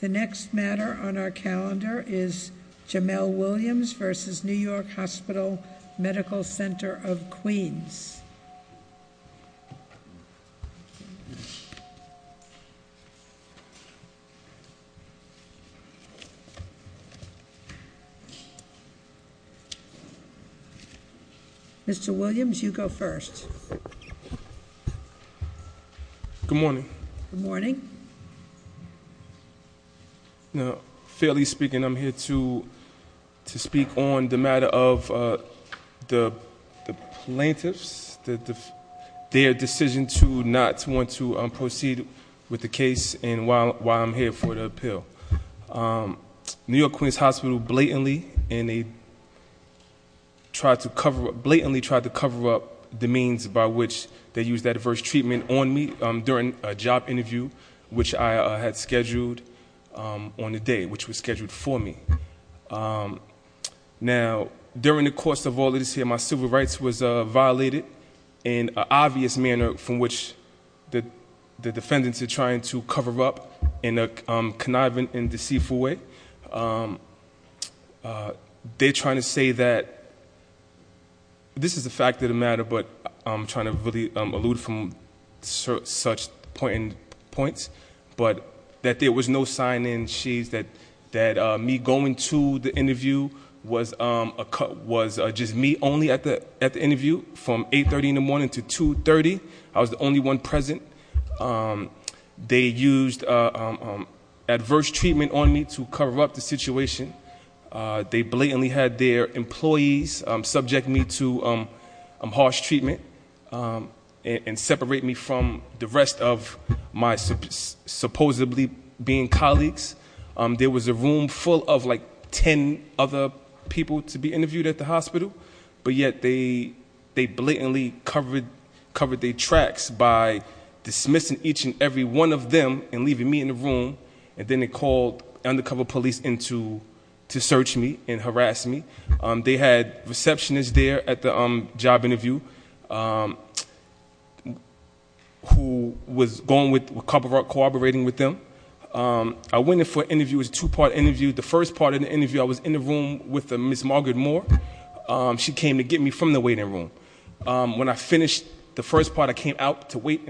The next matter on our calendar is Jamel Williams v. New York Hospital Medical Center of Queens. Mr. Williams, you go first. Good morning. Good morning. Fairly speaking, I'm here to speak on the matter of the plaintiffs, their decision to not want to proceed with the case and why I'm here for the appeal. New York Queens Hospital blatantly tried to cover up the means by which they used that adverse treatment on me during a job interview, which I had scheduled on the day, which was scheduled for me. Now during the course of all this here, my civil rights was violated in an obvious manner from which the defendants are trying to cover up in a conniving and deceitful way. They're trying to say that this is a fact of the matter, but I'm trying to really allude from such points. But that there was no sign in sheets that me going to the interview was just me only at the interview from 8.30 in the morning to 2.30. I was the only one present. They used adverse treatment on me to cover up the situation. They blatantly had their employees subject me to harsh treatment and separate me from the rest of my supposedly being colleagues. There was a room full of like ten other people to be interviewed at the hospital. But yet they blatantly covered their tracks by dismissing each and every one of them and leaving me in the room. And then they called undercover police in to search me and harass me. They had receptionist there at the job interview who was cooperating with them. I went in for an interview, it was a two part interview. The first part of the interview I was in the room with Ms. Margaret Moore. She came to get me from the waiting room. When I finished the first part, I came out to wait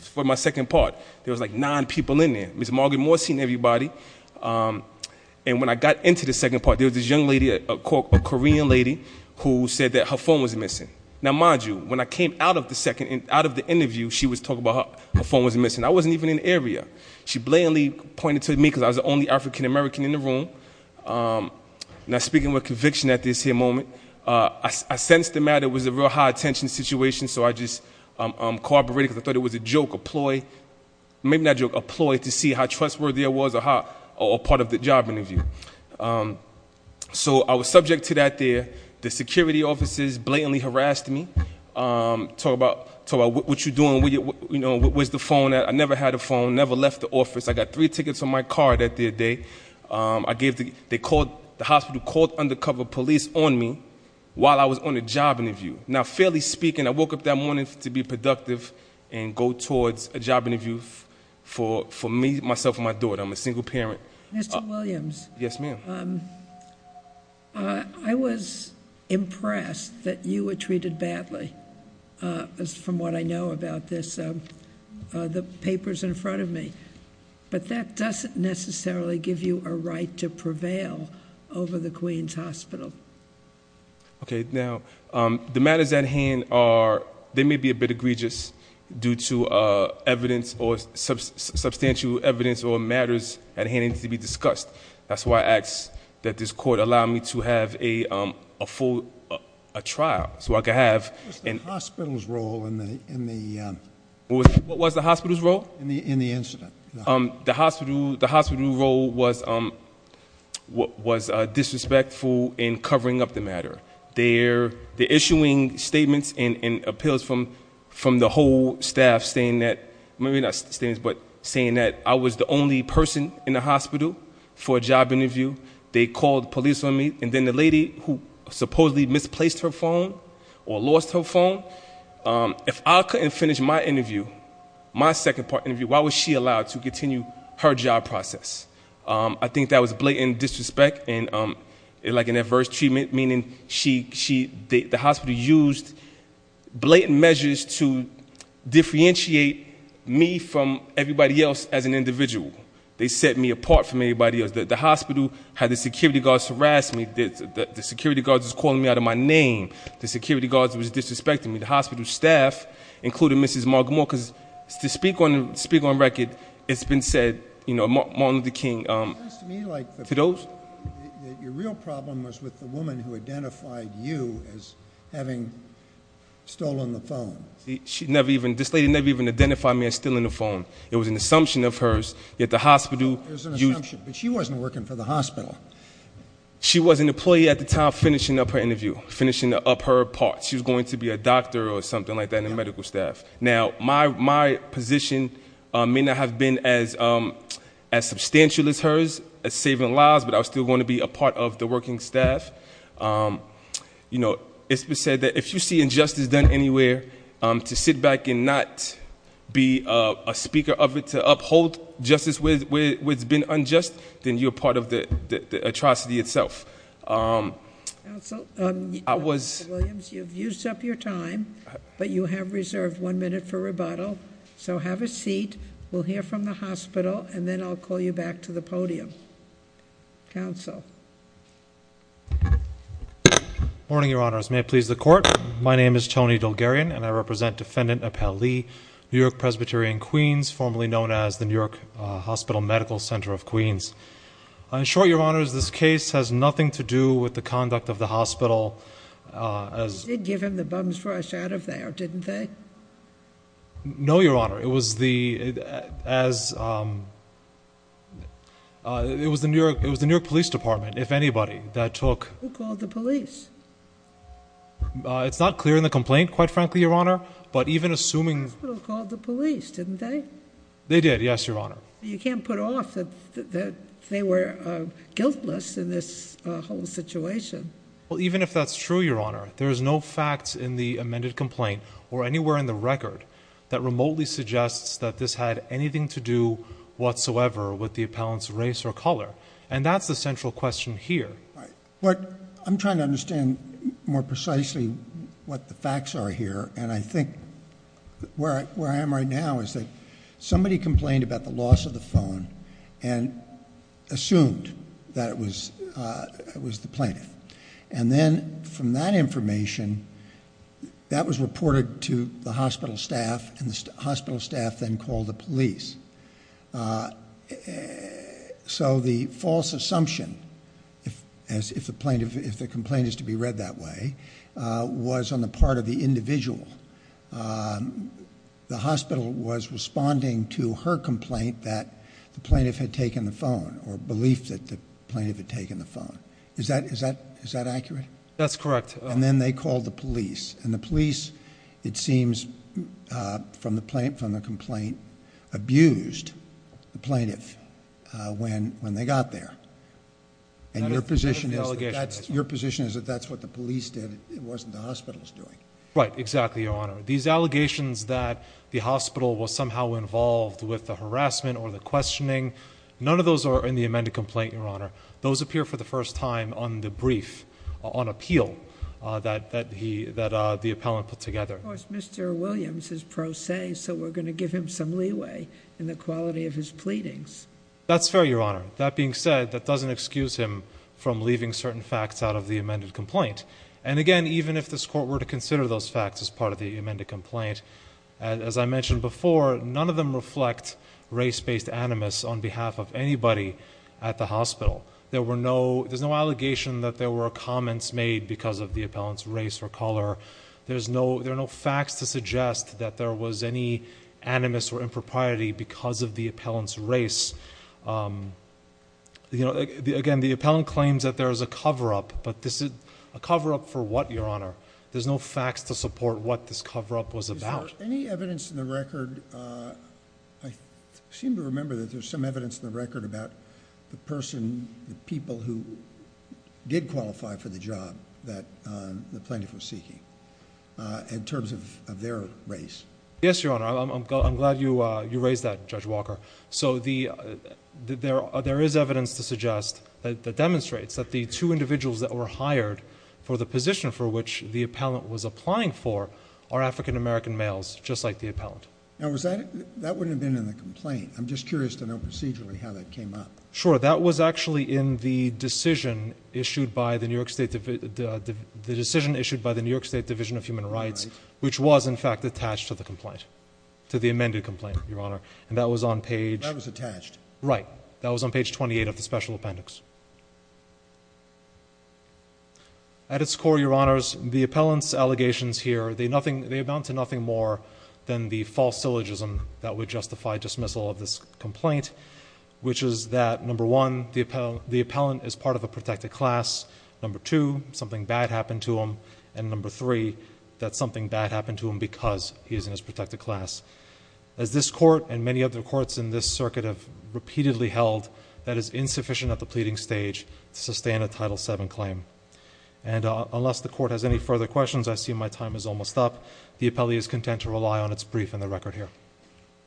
for my second part. There was like nine people in there. Ms. Margaret Moore seen everybody. And when I got into the second part, there was this young lady, a Korean lady, who said that her phone was missing. Now mind you, when I came out of the second, out of the interview, she was talking about her phone was missing. I wasn't even in the area. She blatantly pointed to me because I was the only African American in the room. Now speaking with conviction at this here moment, I sensed the matter was a real high attention situation so I just cooperated because I thought it was a joke, a ploy. Maybe not a joke, a ploy to see how trustworthy I was or part of the job interview. So I was subject to that there. The security officers blatantly harassed me, talk about what you're doing, where's the phone at. I never had a phone, never left the office. I got three tickets on my card that day. The hospital called undercover police on me while I was on a job interview. Now fairly speaking, I woke up that morning to be productive and go towards a job interview for me, myself, and my daughter. I'm a single parent. Mr. Williams. Yes, ma'am. I was impressed that you were treated badly, as from what I know about this, the papers in front of me. But that doesn't necessarily give you a right to prevail over the Queen's Hospital. Okay, now, the matters at hand are, they may be a bit egregious due to substantial evidence or matters at hand to be discussed. That's why I ask that this court allow me to have a full trial, so I can have- What's the hospital's role in the- What was the hospital's role? In the incident. The hospital role was disrespectful in covering up the matter. They're issuing statements and appeals from the whole staff, saying that, maybe not statements, but saying that I was the only person in the hospital for a job interview. They called police on me, and then the lady who supposedly misplaced her phone or lost her phone. If I couldn't finish my interview, my second part interview, why was she allowed to continue her job process? I think that was blatant disrespect and like an adverse treatment, meaning the hospital used blatant measures to differentiate me from everybody else as an individual. They set me apart from everybody else. The hospital had the security guards harass me, the security guards was calling me out of my name. The security guards was disrespecting me, the hospital staff, including Mrs. Margaret Moore, because to speak on record, it's been said, Martin Luther King, to those- It seems to me like your real problem was with the woman who identified you as having stolen the phone. She never even, this lady never even identified me as stealing the phone. It was an assumption of hers, yet the hospital- It was an assumption, but she wasn't working for the hospital. She was an employee at the time finishing up her interview, finishing up her part. She was going to be a doctor or something like that, a medical staff. Now, my position may not have been as substantial as hers, as saving lives, but I was still going to be a part of the working staff. It's been said that if you see injustice done anywhere, to sit back and not be a speaker of it to uphold justice where it's been unjust, then you're part of the atrocity itself. I was- Mr. Williams, you've used up your time, but you have reserved one minute for rebuttal. So have a seat. We'll hear from the hospital, and then I'll call you back to the podium. Counsel. Morning, your honors. May it please the court. My name is Tony Delgarian, and I represent Defendant Appel Lee, New York Presbytery in Queens, formerly known as the New York Hospital Medical Center of Queens. In short, your honors, this case has nothing to do with the conduct of the hospital as- They did give him the bums brush out of there, didn't they? No, your honor. It was the, as, it was the New York Police Department, if anybody, that took- Who called the police? It's not clear in the complaint, quite frankly, your honor, but even assuming- The hospital called the police, didn't they? They did, yes, your honor. You can't put off that they were guiltless in this whole situation. Well, even if that's true, your honor, there is no facts in the amended complaint or anywhere in the record that remotely suggests that this had anything to do whatsoever with the appellant's race or color, and that's the central question here. What, I'm trying to understand more precisely what the facts are here, and I think where I am right now is that somebody complained about the loss of the phone and assumed that it was the plaintiff. And then from that information, that was reported to the hospital staff, and the hospital staff then called the police. So the false assumption, if the complaint is to be read that way, was on the part of the individual. The hospital was responding to her complaint that the plaintiff had taken the phone, or believed that the plaintiff had taken the phone, is that accurate? That's correct. And then they called the police, and the police, it seems, from the complaint, abused the plaintiff when they got there. And your position is that that's what the police did, it wasn't the hospital's doing. Right, exactly, your honor. These allegations that the hospital was somehow involved with the harassment or the questioning, none of those are in the amended complaint, your honor. Those appear for the first time on the brief, on appeal, that the appellant put together. Of course, Mr. Williams is pro se, so we're going to give him some leeway in the quality of his pleadings. That's fair, your honor. That being said, that doesn't excuse him from leaving certain facts out of the amended complaint. And again, even if this court were to consider those facts as part of the amended complaint, as I mentioned before, none of them reflect race-based animus on behalf of anybody at the hospital. There's no allegation that there were comments made because of the appellant's race or color. There are no facts to suggest that there was any animus or Again, the appellant claims that there is a cover up, but this is a cover up for what, your honor? There's no facts to support what this cover up was about. Is there any evidence in the record, I seem to remember that there's some evidence in the record about the person, the people who did qualify for the job that the plaintiff was seeking. In terms of their race. Yes, your honor, I'm glad you raised that, Judge Walker. So there is evidence to suggest that demonstrates that the two individuals that were hired for the position for which the appellant was applying for are African American males, just like the appellant. Now, that wouldn't have been in the complaint. I'm just curious to know procedurally how that came up. Sure, that was actually in the decision issued by the New York State Division of Human Rights, which was in fact attached to the complaint, to the amended complaint, your honor. And that was on page- That was attached. Right, that was on page 28 of the special appendix. At its core, your honors, the appellant's allegations here, they amount to nothing more than the false syllogism that would justify dismissal of this complaint. Which is that, number one, the appellant is part of a protected class. Number two, something bad happened to him. And number three, that something bad happened to him because he is in his protected class. As this court and many other courts in this circuit have repeatedly held, that is insufficient at the pleading stage to sustain a Title VII claim. And unless the court has any further questions, I see my time is almost up. The appellee is content to rely on its brief and the record here.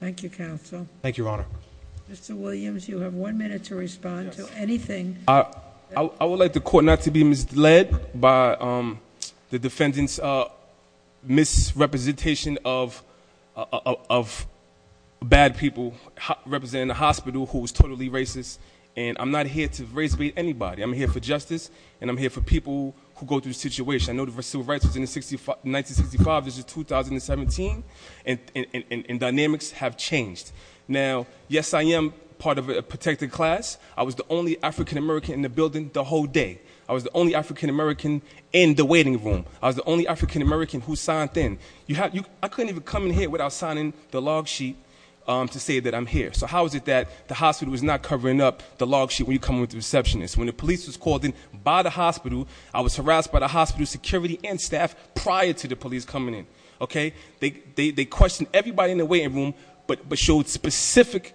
Thank you, counsel. Thank you, your honor. Mr. Williams, you have one minute to respond to anything. I would like the court not to be misled by the defendant's misrepresentation of bad people representing a hospital who is totally racist. And I'm not here to race beat anybody. I'm here for justice and I'm here for people who go through the situation. I know the civil rights was in 1965, this is 2017, and dynamics have changed. Now, yes, I am part of a protected class. I was the only African American in the building the whole day. I was the only African American in the waiting room. I was the only African American who signed in. I couldn't even come in here without signing the log sheet to say that I'm here. So how is it that the hospital is not covering up the log sheet when you come with the receptionist? When the police was called in by the hospital, I was harassed by the hospital security and staff prior to the police coming in, okay? They questioned everybody in the waiting room, but showed specific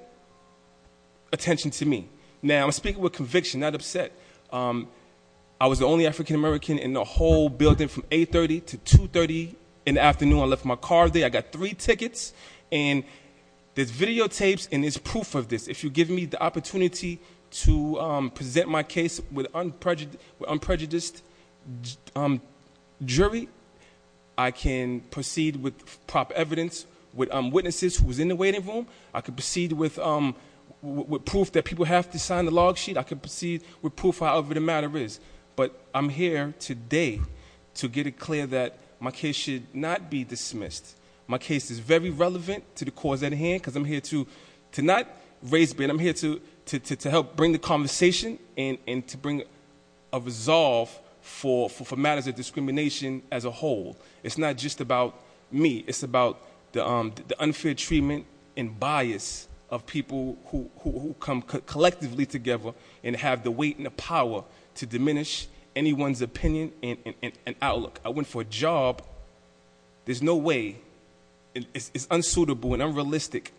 attention to me. Now, I'm speaking with conviction, not upset. I was the only African American in the whole building from 8.30 to 2.30 in the afternoon. I left my car there. I got three tickets. And there's videotapes and there's proof of this. If you give me the opportunity to present my case with an unprejudiced jury, I can proceed with proper evidence with witnesses who was in the waiting room. I could proceed with proof that people have to sign the log sheet. I could proceed with proof, however the matter is. But I'm here today to get it clear that my case should not be dismissed. My case is very relevant to the cause at hand, because I'm here to not raise a ban. I'm here to help bring the conversation and to bring a resolve for matters of discrimination as a whole. It's not just about me. It's about the unfair treatment and bias of people who come collectively together and have the weight and the power to diminish anyone's opinion and outlook. I went for a job, there's no way, it's unsuitable and unrealistic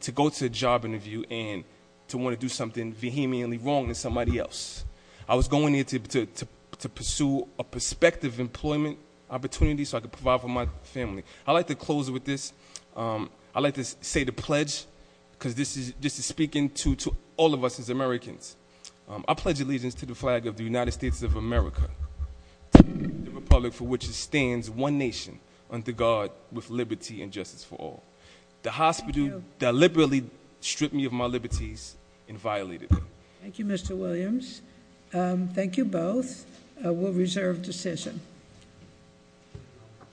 to go to a job interview and to want to do something vehemently wrong with somebody else. I was going here to pursue a perspective employment opportunity so I could provide for my family. I'd like to close with this. I'd like to say the pledge, because this is speaking to all of us as Americans. I pledge allegiance to the flag of the United States of America. The republic for which it stands, one nation, under God, with liberty and justice for all. The hospital that liberally stripped me of my liberties and violated me. Thank you, Mr. Williams. Thank you both. We'll reserve decision.